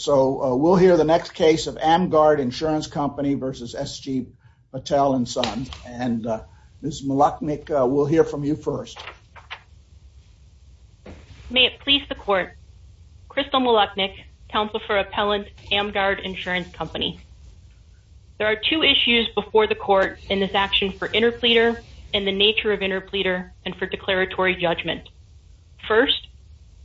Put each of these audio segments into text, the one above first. so we'll hear the next case of AmGuard Insurance Company versus SG Patel and Sons and Ms. Molachnick we'll hear from you first. May it please the court Crystal Molachnick, counsel for appellant AmGuard Insurance Company. There are two issues before the court in this action for interpleader and the nature of interpleader and for declaratory judgment. First,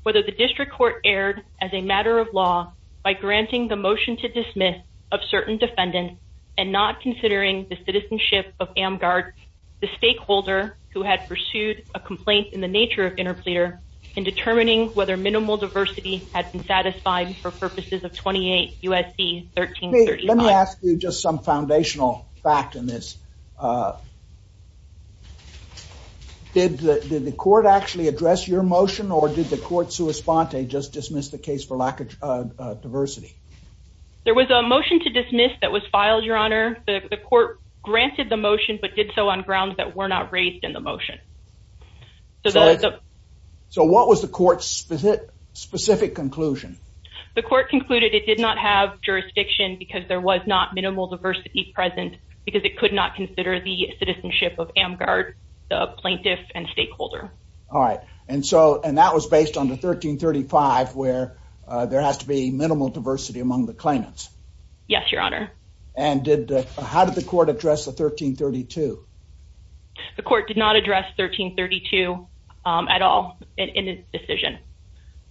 whether the district court erred as a matter of law by granting the motion to dismiss of certain defendants and not considering the citizenship of AmGuard, the stakeholder who had pursued a complaint in the nature of interpleader in determining whether minimal diversity had been satisfied for purposes of 28 USC 1335. Let me ask you just some foundational fact in this. Did the court sua sponte just dismiss the case for lack of diversity? There was a motion to dismiss that was filed, your honor. The court granted the motion but did so on grounds that were not raised in the motion. So what was the court's specific conclusion? The court concluded it did not have jurisdiction because there was not minimal diversity present because it could not consider the citizenship of AmGuard, the plaintiff and stakeholder. All right and so and that was based on the 1335 where there has to be minimal diversity among the claimants. Yes, your honor. And how did the court address the 1332? The court did not address 1332 at all in the decision.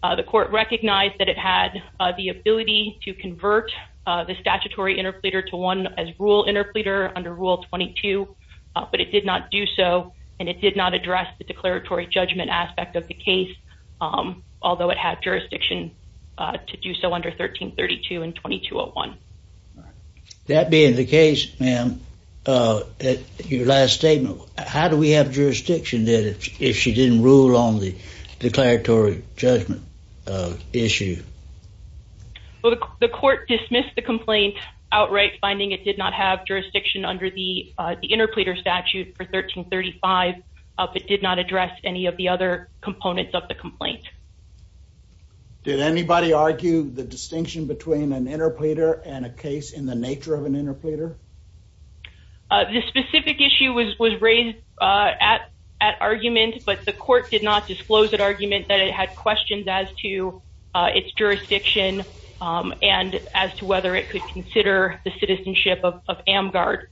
The court recognized that it had the ability to convert the statutory interpleader to one as rule interpleader under rule 22 but it did not do so and it did not address the although it had jurisdiction to do so under 1332 and 2201. That being the case ma'am, your last statement, how do we have jurisdiction then if she didn't rule on the declaratory judgment issue? Well the court dismissed the complaint outright finding it did not have jurisdiction under the interpleader statute for 1335 but did not address any of the other components of the complaint. Did anybody argue the distinction between an interpleader and a case in the nature of an interpleader? This specific issue was was raised at at argument but the court did not disclose that argument that it had questions as to its jurisdiction and as to whether it could consider the citizenship of AmGuard.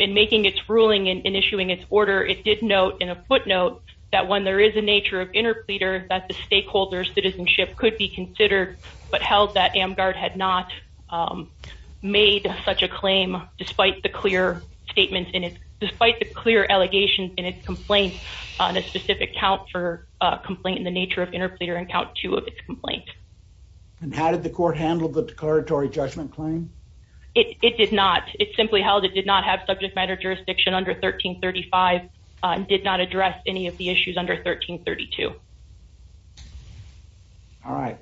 In making its ruling and issuing its order it did note in a footnote that when there is a nature of interpleader that the stakeholder's citizenship could be considered but held that AmGuard had not made such a claim despite the clear statements in it despite the clear allegations in its complaint on a specific count for complaint in the nature of interpleader and count two of its complaint. And how did the court handle the declaratory judgment claim? It did not it simply held it did not subject matter jurisdiction under 1335 and did not address any of the issues under 1332. All right.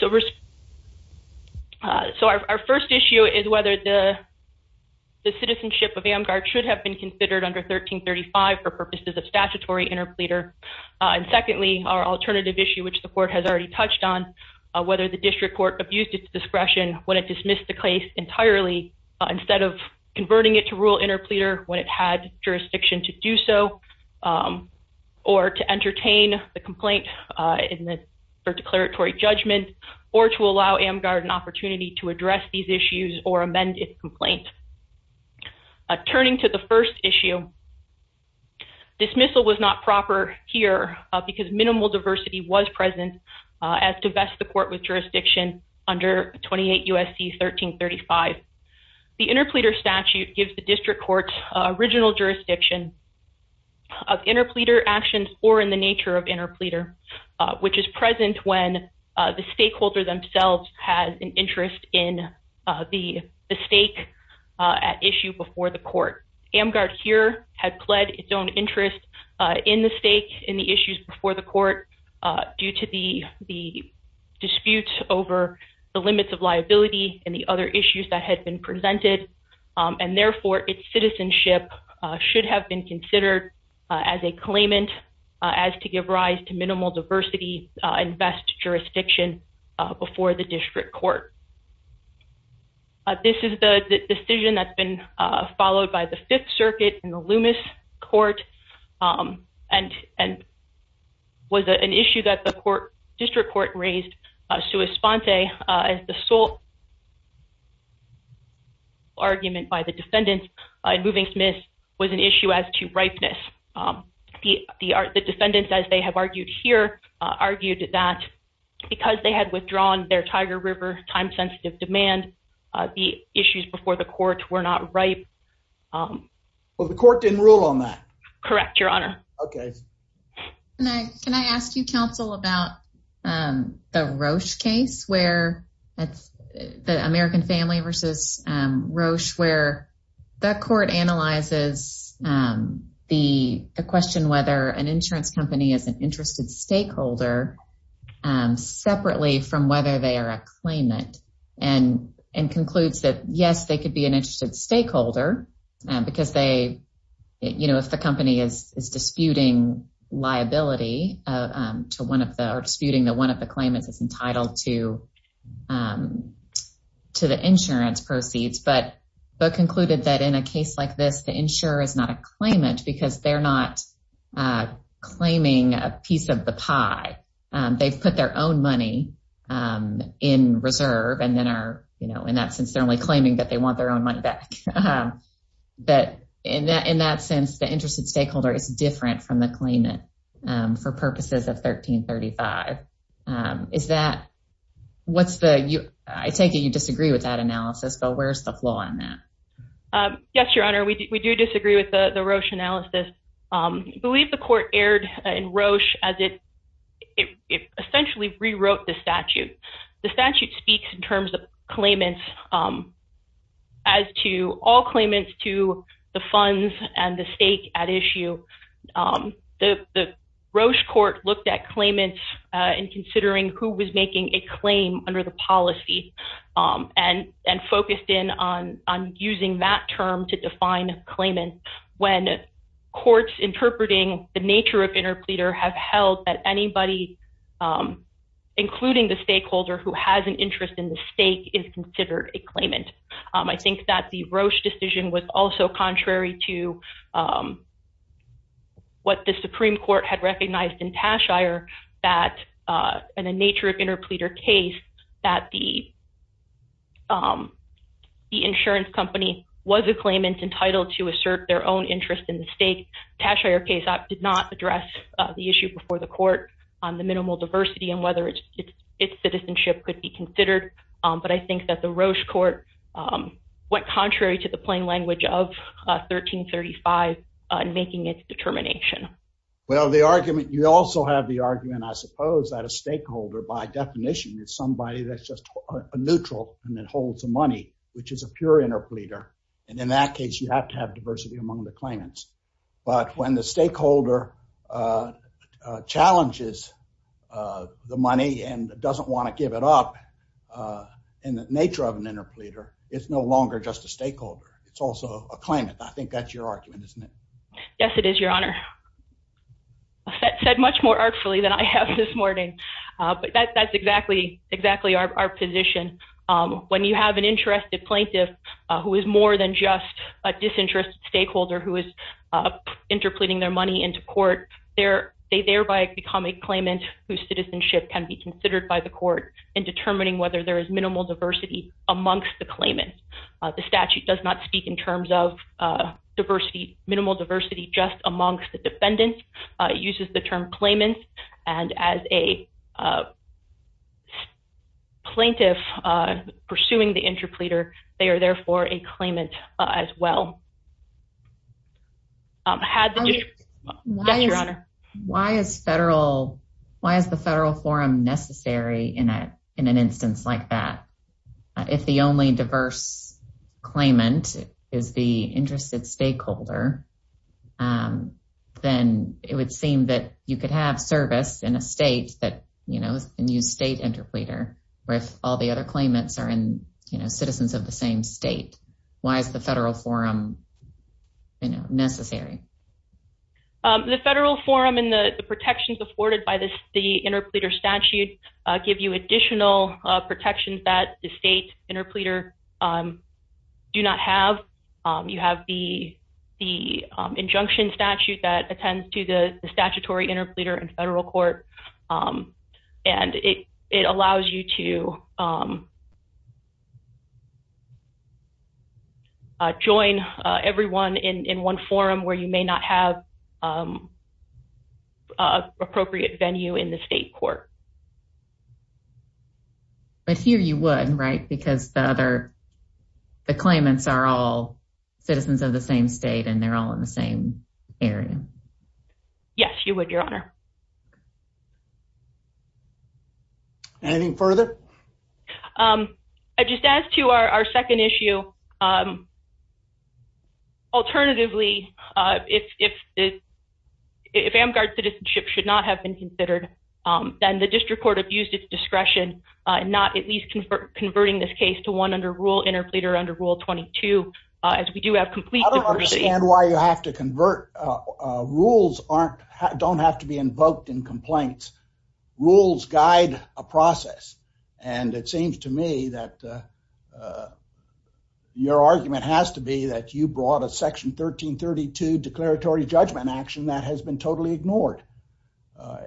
So our first issue is whether the the citizenship of AmGuard should have been considered under 1335 for purposes of statutory interpleader and secondly our alternative issue which the court has already touched on whether the district court abused its discretion when it dismissed the case entirely instead of converting it to rule interpleader when it had jurisdiction to do so or to entertain the complaint in the declaratory judgment or to allow AmGuard an opportunity to address these issues or amend its complaint. Turning to the first issue, dismissal was not as to vest the court with jurisdiction under 28 USC 1335. The interpleader statute gives the district courts original jurisdiction of interpleader actions or in the nature of interpleader which is present when the stakeholder themselves has an interest in the stake at issue before the court. AmGuard here had pled its own interest in the stake in the issues before the court due to the dispute over the limits of liability and the other issues that had been presented and therefore its citizenship should have been considered as a claimant as to give rise to minimal diversity and vest jurisdiction before the district court. This is the decision that's been followed by the Fifth District Court raised sua sponte as the sole argument by the defendants in moving Smith was an issue as to ripeness. The defendants as they have argued here argued that because they had withdrawn their Tiger River time-sensitive demand the issues before the court were not ripe. Well the court didn't rule on that. Correct your honor. Okay can I ask you counsel about the Roche case where that's the American family versus Roche where the court analyzes the question whether an insurance company is an interested stakeholder separately from whether they are a claimant and and concludes that yes they could be an interested stakeholder because they you know if the company is disputing liability to one of the are disputing that one of the claimants is entitled to to the insurance proceeds but but concluded that in a case like this the insurer is not a claimant because they're not claiming a piece of the pie. They've put their own money in reserve and then are you know in that since they're only claiming that they want their own money back that in that in that sense the interested stakeholder is different from the claimant for purposes of 1335. Is that what's the you I take it you disagree with that analysis but where's the flaw in that? Yes your honor we do disagree with the Roche analysis. I believe the court erred in Roche as it essentially rewrote the statute. The statute speaks in terms of claimants as to all claimants to the funds and the stake at issue. The Roche court looked at claimants in considering who was making a claim under the policy and and focused in on on using that term to define claimant when courts interpreting the including the stakeholder who has an interest in the stake is considered a claimant. I think that the Roche decision was also contrary to what the Supreme Court had recognized in Tashire that in a nature of interpleader case that the the insurance company was a claimant entitled to assert their own interest in the stake. Tashire case did not address the issue before the court on the diversity and whether it's its citizenship could be considered but I think that the Roche court went contrary to the plain language of 1335 in making its determination. Well the argument you also have the argument I suppose that a stakeholder by definition is somebody that's just a neutral and it holds the money which is a pure interpleader and in that case you have to have diversity among the claimants but when the stakeholder challenges the money and doesn't want to give it up in the nature of an interpleader it's no longer just a stakeholder it's also a claimant. I think that's your argument isn't it? Yes it is your honor. That said much more artfully than I have this morning but that that's exactly exactly our position when you have an interested plaintiff who is more than just a disinterested stakeholder who is interpleading their money into court there they thereby become a claimant whose citizenship can be considered by the court in determining whether there is minimal diversity amongst the claimant. The statute does not speak in terms of diversity minimal diversity just amongst the defendants uses the term claimant and as a plaintiff pursuing the interpleader they are therefore a claimant as well. Why is federal why is the federal forum necessary in a in an instance like that? If the only diverse claimant is the interested stakeholder then it would seem that you could have service in a state that you know and use state interpleader with all the other claimants are in you know citizens of the same state. Why is the federal forum necessary? The federal forum and the protections afforded by this the interpleader statute give you additional protections that the state interpleader do not have. You have the the injunction statute that attends to the statutory interpleader in federal court and it it allows you to join everyone in one forum where you may not have appropriate venue in the state court. But here you would right because the other the claimants are all citizens of the same state and they're all in the same area. Yes, you would your honor. Anything further? I just asked you our second issue. Alternatively, if if if Amgard citizenship should not have been considered, then the district court abused its discretion, not at least convert converting this case to one under rule interpleader under Rule 22. As we do have complete why you have to convert rules aren't don't have to be invoked in complaints. Rules guide a process. And it seems to me that your argument has to be that you brought a section 1332 declaratory judgment action that has been totally ignored.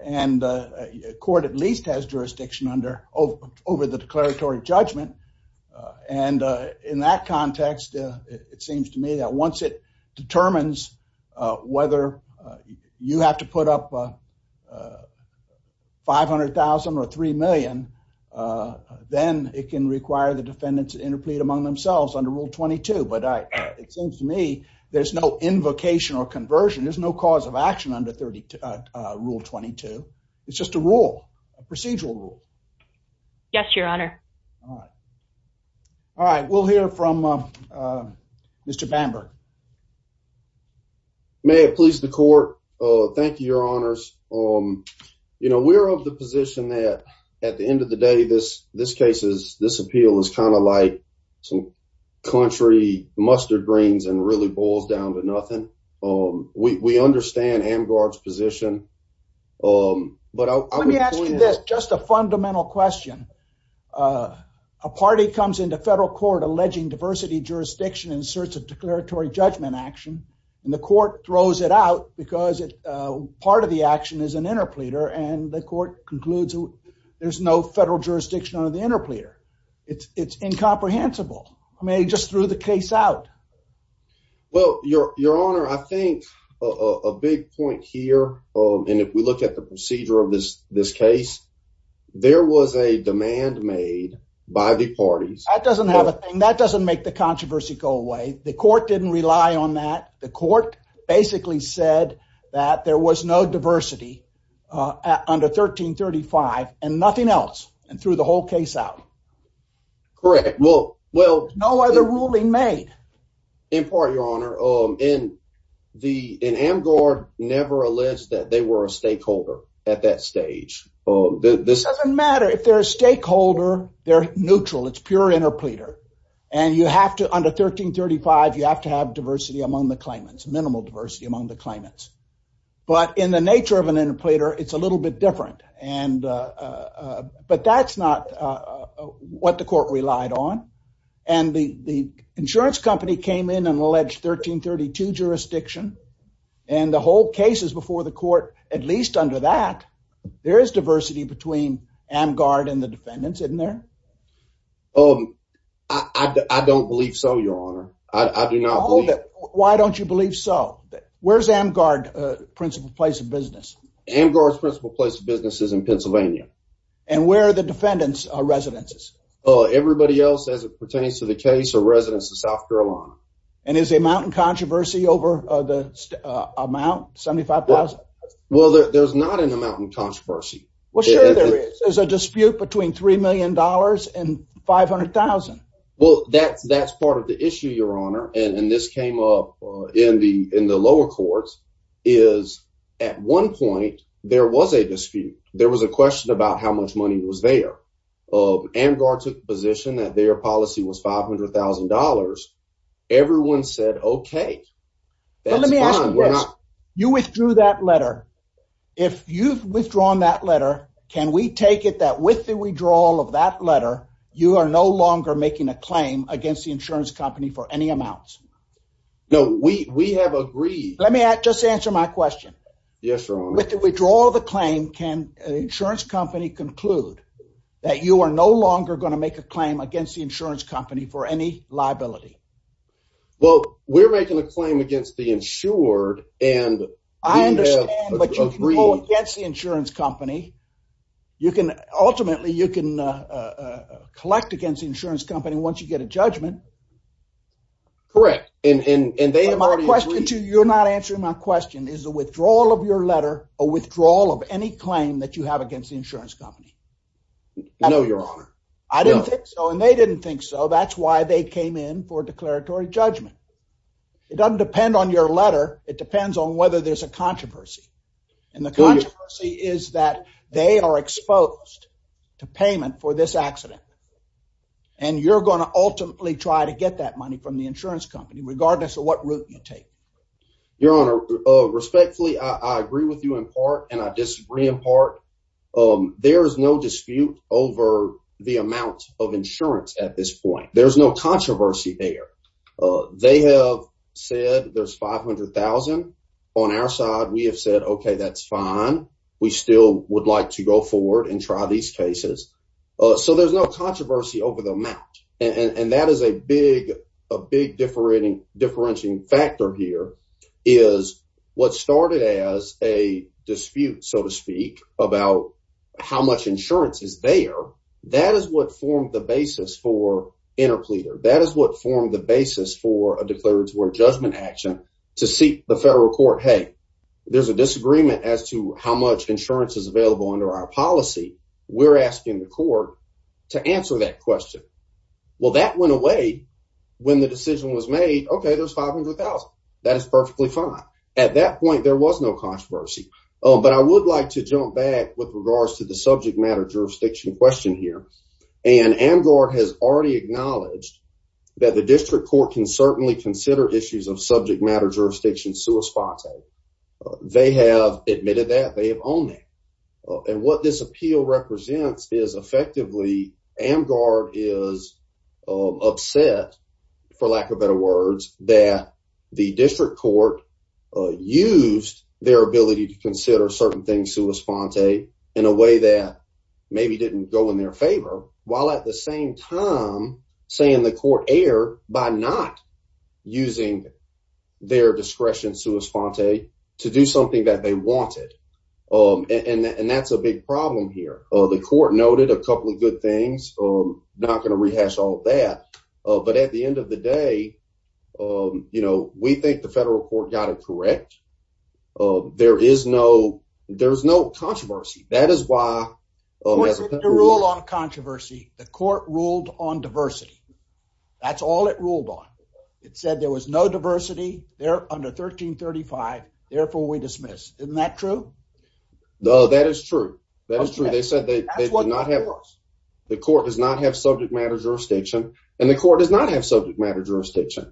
And court at least has jurisdiction under over the declaratory judgment. And in that context, it seems to me that once it 500,000 or three million, uh, then it can require the defendants interplead among themselves under Rule 22. But it seems to me there's no invocation or conversion. There's no cause of action under 30 Rule 22. It's just a rule procedural rule. Yes, your honor. All right, we'll hear from, uh, Mr Bamberg. May it please the court. Thank you, your honors. Um, you know, we're of the position that at the end of the day, this this case is this appeal is kind of like some country mustard greens and really boils down to nothing. Um, we understand Amgard's position. Um, but I'll let me ask you this. Just a fundamental question. Uh, a party comes into federal court alleging diversity jurisdiction in search of declaratory judgment action, and the court throws it out because, uh, part of the action is an interpleader, and the court concludes there's no federal jurisdiction under the interpleader. It's incomprehensible. I mean, it just threw the case out. Well, your your honor, I think a big point here. Um, and if we look at the procedure of this this case, there was a demand made by the parties that doesn't have a thing that doesn't make the controversy go away. The court didn't rely on that. The court basically said that there was no diversity, uh, under 13 35 and nothing else and threw the whole case out. Correct. Well, well, no other ruling made in part, your honor in the in Amgard never a list that they were a stakeholder at that stage. This doesn't matter if they're a stakeholder. They're neutral. It's pure interpleader. And you have to under 13 35. You have to have diversity among the claimants, minimal diversity among the claimants. But in the nature of an interpleader, it's a little bit different. And, uh, but that's not what the court relied on. And the insurance company came in and alleged 13 32 jurisdiction and the whole case is before the court, at least under that there is diversity between Amgard and the defendants, isn't there? Um, I don't believe so, your honor. I do not. Why don't you believe so? Where's Amgard? Principal place of business. Amgard's principal place of businesses in Pennsylvania. And where the defendants are residences. Oh, everybody else as it pertains to the case of residents of South Carolina. And is a mountain controversy over the amount 75,000. Well, there's not an controversy. There's a dispute between $3 million and 500,000. Well, that's that's part of the issue, your honor. And this came up in the in the lower courts is at one point there was a dispute. There was a question about how much money was there of Amgard took position that their policy was $500,000. Everyone said, Okay, let me ask you. You withdrew that letter. If you've withdrawn that letter, can we take it that with the withdrawal of that letter, you are no longer making a claim against the insurance company for any amounts? No, we have agreed. Let me just answer my question. Yes, sir. With the withdrawal of the claim, can the insurance company conclude that you are no longer going to make a claim against the insurance company for any liability? Well, we're making a claim against the insured, and I understand but you can go against the insurance company. You can. Ultimately, you can collect against the insurance company once you get a judgment. Correct. And they have my question to you're not answering my question. Is the withdrawal of your letter a withdrawal of any claim that you have against the insurance company? No, your honor. I didn't think so. And they didn't think so. That's why they came in for declaratory judgment. It doesn't depend on your letter. It depends on whether there's a controversy. And the controversy is that they are exposed to payment for this accident. And you're gonna ultimately try to get that money from the insurance company, regardless of what route you take. Your honor. Respectfully, I agree with you in part and I disagree in part. Um, there is no dispute over the amount of insurance. At this point, there's no controversy there. They have said there's 500,000 on our side. We have said, Okay, that's fine. We still would like to go forward and try these cases. Eso. There's no controversy over the amount, and that is a big, a big different differentiating factor here is what started as a dispute, so to speak, about how much insurance is there. That is what formed the basis for interpleader. That is what formed the basis for a declaratory judgment action to seek the federal court. Hey, there's a disagreement as to how much insurance is available under our policy. We're asking the court to answer that question. Well, that went away when the decision was made. Okay, there's 500,000. That is perfectly fine. At that point, there was no controversy. But I would like to jump back with regards to the subject matter jurisdiction question here, and Amgar has already acknowledged that the district court can certainly consider issues of subject matter jurisdiction. Suis Ponte. They have admitted that they have only on what this appeal represents is effectively Amgar is upset, for lack of better words, that the district court used their ability to consider certain things. Suis Ponte in a way that maybe didn't go in their favor while at the same time saying the court air by not using their discretion. Suis Ponte to do something that they wanted. Um, and that's a big problem here. The court noted a couple of good things. I'm not gonna rehash all that. But at the end of the day, um, you know, we think the federal court got it correct. Uh, there is no there's no controversy. That is why rule on controversy. The court ruled on diversity. That's all it ruled on. It said there was no diversity there under 13 35. Therefore, we dismiss. Isn't that true? No, that is true. That is true. They said they did not have the court does not have subject matter jurisdiction, and the court does not have subject matter jurisdiction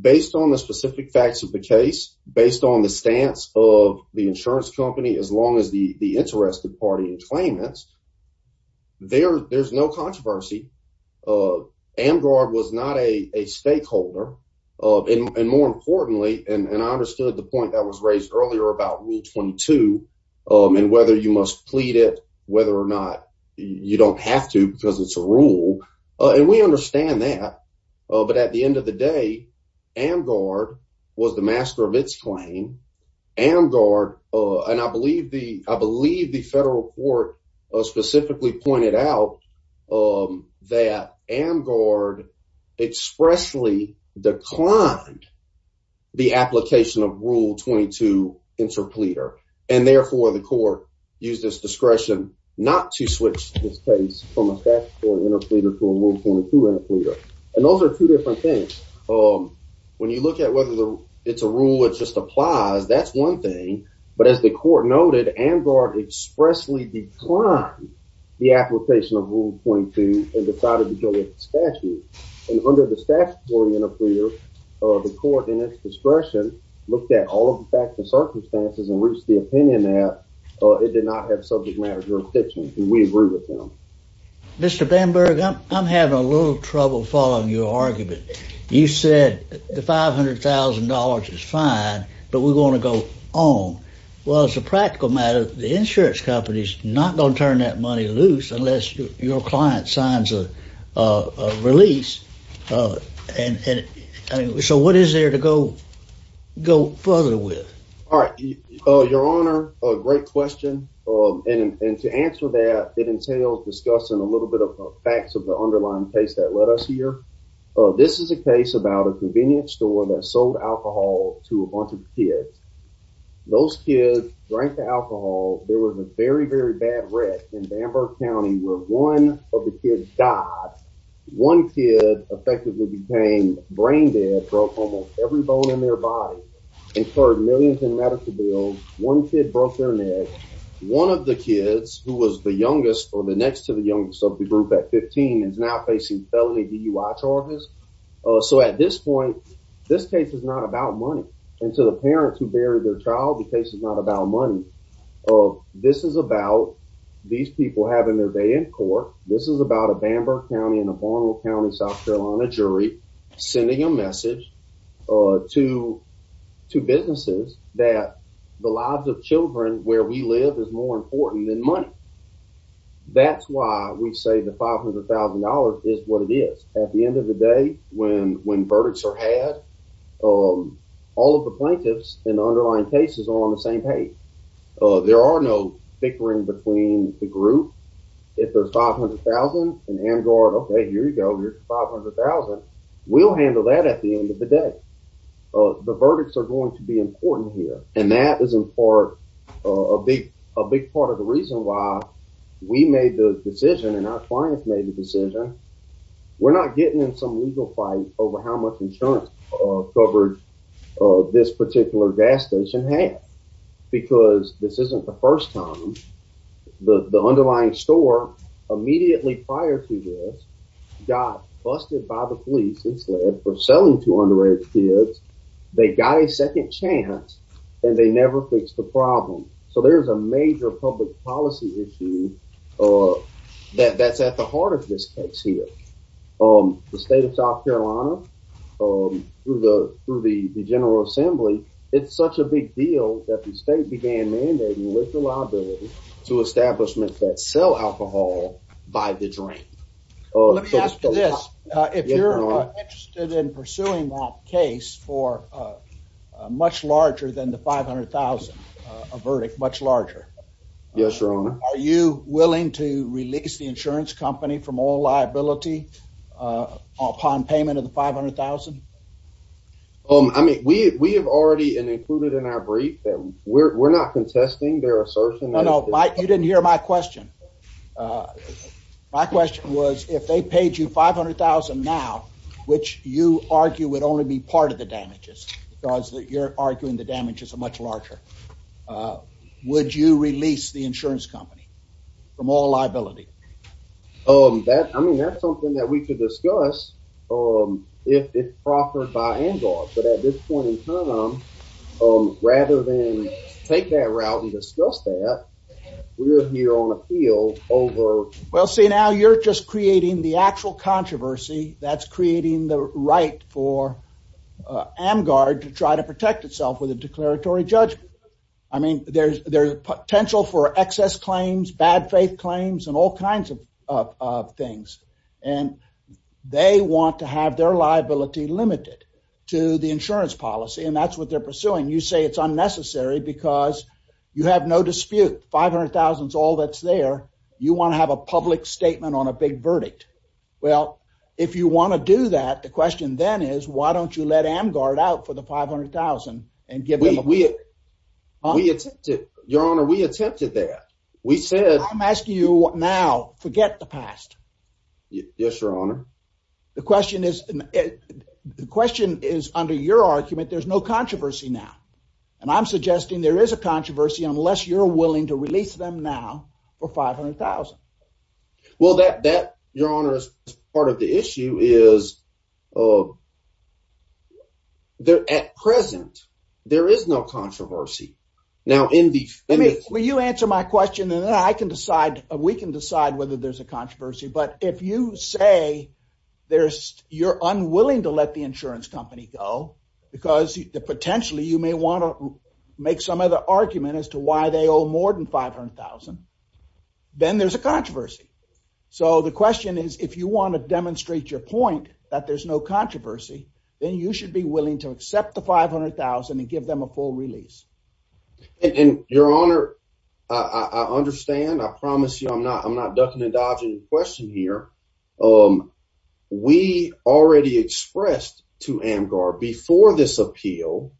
based on the specific facts of the case based on the stance of the insurance company. As long as the interested party and claimants there, there's no controversy. Uh, and guard was not a stakeholder. Uh, and more importantly, and I understood the point that was raised earlier about Rule 22 on whether you must plead it, whether or not you don't have to because it's a rule on. We understand that. But at the end of the day, and guard was the and I believe the I believe the federal court specifically pointed out, um, that am gaurd expressly declined the application of Rule 22 interpleader. And therefore, the court use this discretion not to switch this case from a fact or interpleader to a move 22 interpleader. And those are two different things. Um, when you look at whether it's a rule, it just applies. That's one thing. But as the court noted, am gaurd expressly declined the application of Rule 22 and decided to go with statute. And under the statutory interpleader, the court in its discretion looked at all of the facts and circumstances and reached the opinion that it did not have subject matter jurisdiction. And we agree with him. Mr Bamberg, I'm having a little trouble following your argument. You said the $500,000 is fine, but we're gonna go on. Well, it's a practical matter. The insurance company's not gonna turn that money loose unless your client signs a release. Uh, and so what is there to go? Go further with. All right, Your Honor. A great question. And to answer that, it entails discussing a little bit of facts of the underlying case that let us here. This is a case about a those kids drank the alcohol. There was a very, very bad wreck in Bamberg County, where one of the kids died. One kid effectively became brain dead, broke almost every bone in their body, incurred millions in medical bills. One kid broke their neck. One of the kids who was the youngest for the next to the youngest of the group at 15 is now facing felony DUI charges. Eso at this point, this case is not about money into the parents who buried their child. The case is not about money. Oh, this is about these people having their day in court. This is about a Bamberg County in a formal county, South Carolina jury sending a message to two businesses that the lives of Children where we live is more important than money. That's why we say the $500,000 is what it is. At the end of the day, when when verdicts are had, um, all of the plaintiffs in underlying cases on the same page. Uh, there are no bickering between the group. If there's 500,000 and and guard. Okay, here you go. Here's 500,000. We'll handle that at the end of the day. Uh, the verdicts are going to be important here, and that is for a big, a big part of the reason why we made the decision and our clients made the decision. We're not getting in some legal fight over how much insurance covered this particular gas station had because this isn't the first time the underlying store immediately prior to this got busted by the police. It's led for selling to underage kids. They got a second chance, and they never fixed the problem. So there's a major public policy issue, uh, that that's at the heart of this case here. Um, the state of South Carolina, um, through the through the General Assembly. It's such a big deal that the state began mandating with the liability to establishments that sell alcohol by the drink. Let me ask you this. If you're interested in pursuing that case for, uh, much larger than the 500,000 verdict, much larger. Yes, Your Honor. Are you willing to release the insurance company from all liability upon payment of the 500,000? Um, I mean, we have already included in our brief that we're not contesting their assertion. I don't like you didn't hear my question. Uh, my question was if they paid you 500,000 now, which you argue would only be part of the damages because you're arguing the damage is a much larger. Uh, would you release the insurance company from all liability? Um, that I mean, that's something that we could discuss. Um, if it's proffered by and off. But at this point in time, um, rather than take that route and discuss that we're here on creating the actual controversy that's creating the right for Amgard to try to protect itself with a declaratory judgment. I mean, there's potential for excess claims, bad faith claims and all kinds of things. And they want to have their liability limited to the insurance policy. And that's what they're pursuing. You say it's unnecessary because you have no dispute. 500,000 is all that's there. You want to have a public statement on a big verdict? Well, if you want to do that, the question then is, why don't you let Amgard out for the 500,000 and give them a week? We attempted, Your Honor. We attempted that. We said I'm asking you now forget the past. Yes, Your Honor. The question is, the question is under your argument. There's no controversy now, and I'm suggesting there is a controversy unless you're now for 500,000. Well, that that, Your Honor, is part of the issue is, uh, they're at present. There is no controversy now in the way you answer my question, and then I can decide. We can decide whether there's a controversy. But if you say there's you're unwilling to let the insurance company go because potentially you may want to make some other argument as to why they owe more than 500,000, then there's a controversy. So the question is, if you want to demonstrate your point that there's no controversy, then you should be willing to accept the 500,000 and give them a full release. And Your Honor, I understand. I promise you I'm not. I'm not ducking and dodging question here. Um, we already expressed to Amgar before this appeal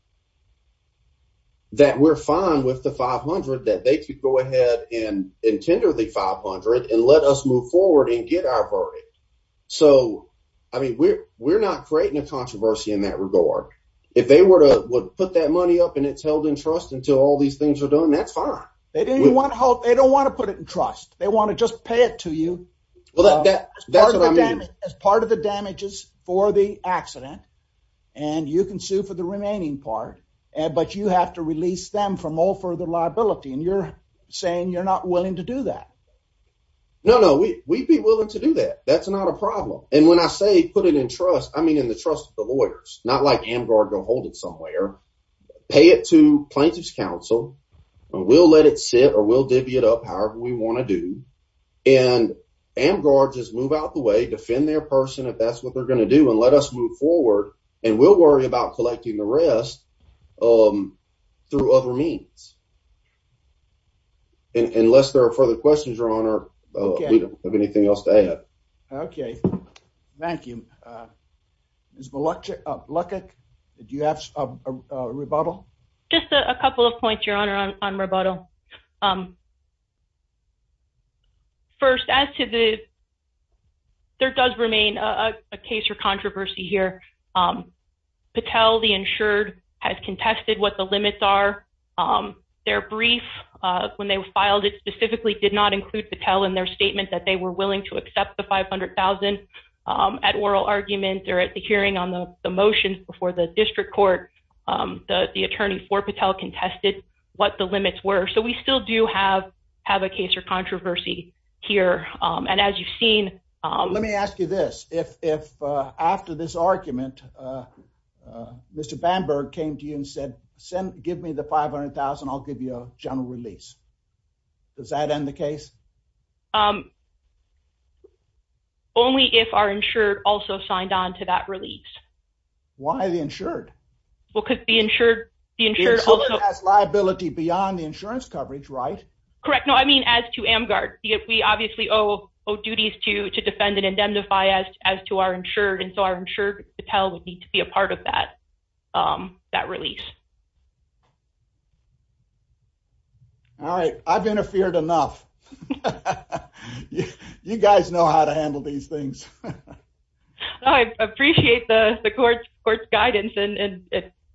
that we're fine with the 500 that they could go ahead and tender the 500 and let us move forward and get our party. So I mean, we're not creating a controversy in that regard. If they were toe would put that money up and it's held in trust until all these things were done. That's fine. They didn't want to help. They don't want to put it in trust. They want to just pay it to you. Well, that's part of the damages for the accident, and you can do for the remaining part, but you have to release them from all further liability. And you're saying you're not willing to do that. No, no, we we'd be willing to do that. That's not a problem. And when I say put it in trust, I mean in the trust of the lawyers, not like Amgar go hold it somewhere, pay it to plaintiff's counsel. We'll let it sit or will divvy it up however we want to do. And Amgar just move out the way, defend their person if that's what they're gonna do and let us move forward. And we'll worry about collecting the rest. Um, through other means. Unless there are further questions, your honor, we don't have anything else to add. Okay, thank you. Uh, there's a lot of luck. Do you have a rebuttal? Just a couple of points, your honor on rebuttal. Um, first, as to the there does remain a case or controversy here. Um, Patel, the insured has contested what the limits are. Um, their brief when they filed it specifically did not include Patel in their statement that they were willing to accept the 500,000 at oral argument or at the hearing on the motions before the district court. Um, the attorney for Patel contested what the limits were. So we still do have have a case or controversy here. Um, and as you've seen, let me ask you this. If after this argument, uh, Mr Bamberg came to you and said, send give me the 500,000. I'll give you a general release. Does that end the case? Um, only if are insured also signed on to that release. Why the insured? Well, the insurance coverage, right? Correct. No, I mean, as to am guard, we obviously owe duties to to defend and indemnify as as to our insured. And so our insured Patel would need to be a part of that, um, that release. All right, I've interfered enough. You guys know how to handle these things. I appreciate the court court guidance and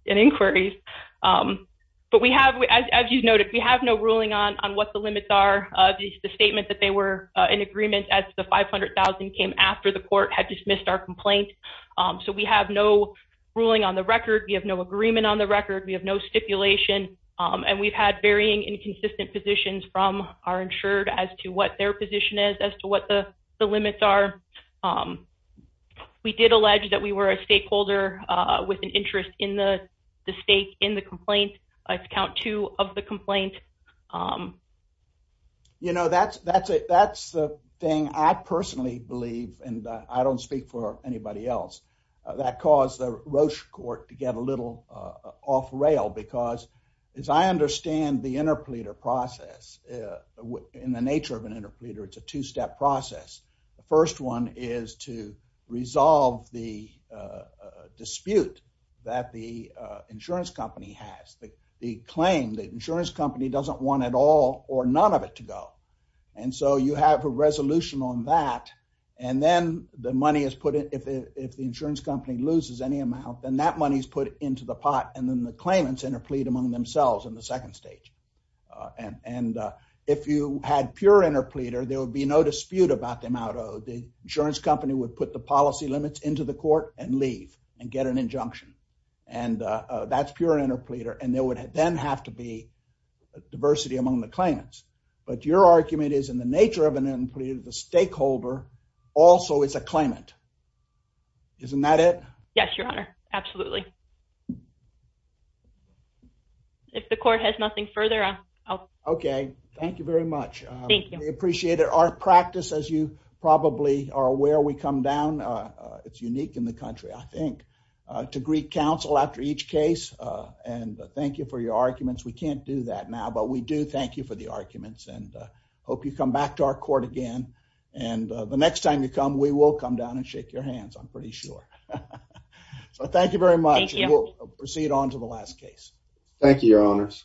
inquiries. Um, but we have, as you noted, we have no ruling on on what the limits are. The statement that they were in agreement as the 500,000 came after the court had dismissed our complaint. Um, so we have no ruling on the record. We have no agreement on the record. We have no stipulation. Um, and we've had varying inconsistent positions from our insured as to what their position is as to what the limits are. Um, we did allege that we were a stakeholder with an interest in the state in the complaint. I count two of the complaint. Um, you know, that's that's it. That's the thing. I personally believe, and I don't speak for anybody else that caused the Roche court to get a little off rail because, as I understand the interpleader process in the nature of an interpleader, it's a two step process. The first one is to resolve the, uh, dispute that the insurance company has the claim that insurance company doesn't want it all or none of it to go. And so you have a resolution on that. And then the money is put in. If the insurance company loses any amount, then that money is put into the pot. And then the claimants interplead among themselves in the second stage. And if you had pure interpleader, there would be no dispute about the amount of the insurance company would put the policy limits into the court and leave and get an injunction. And that's pure interpleader. And there would then have to be diversity among the claimants. But your argument is in the nature of an employee, the stakeholder also is a claimant. Isn't that it? Yes, Your Honor. Absolutely. If the court has nothing further. Okay, thank you very much. Appreciate it. Our where we come down. It's unique in the country, I think, to Greek Council after each case. And thank you for your arguments. We can't do that now, but we do. Thank you for the arguments and hope you come back to our court again. And the next time you come, we will come down and shake your hands. I'm pretty sure. So thank you very much. We'll proceed on to the last case. Thank you, Your Honors.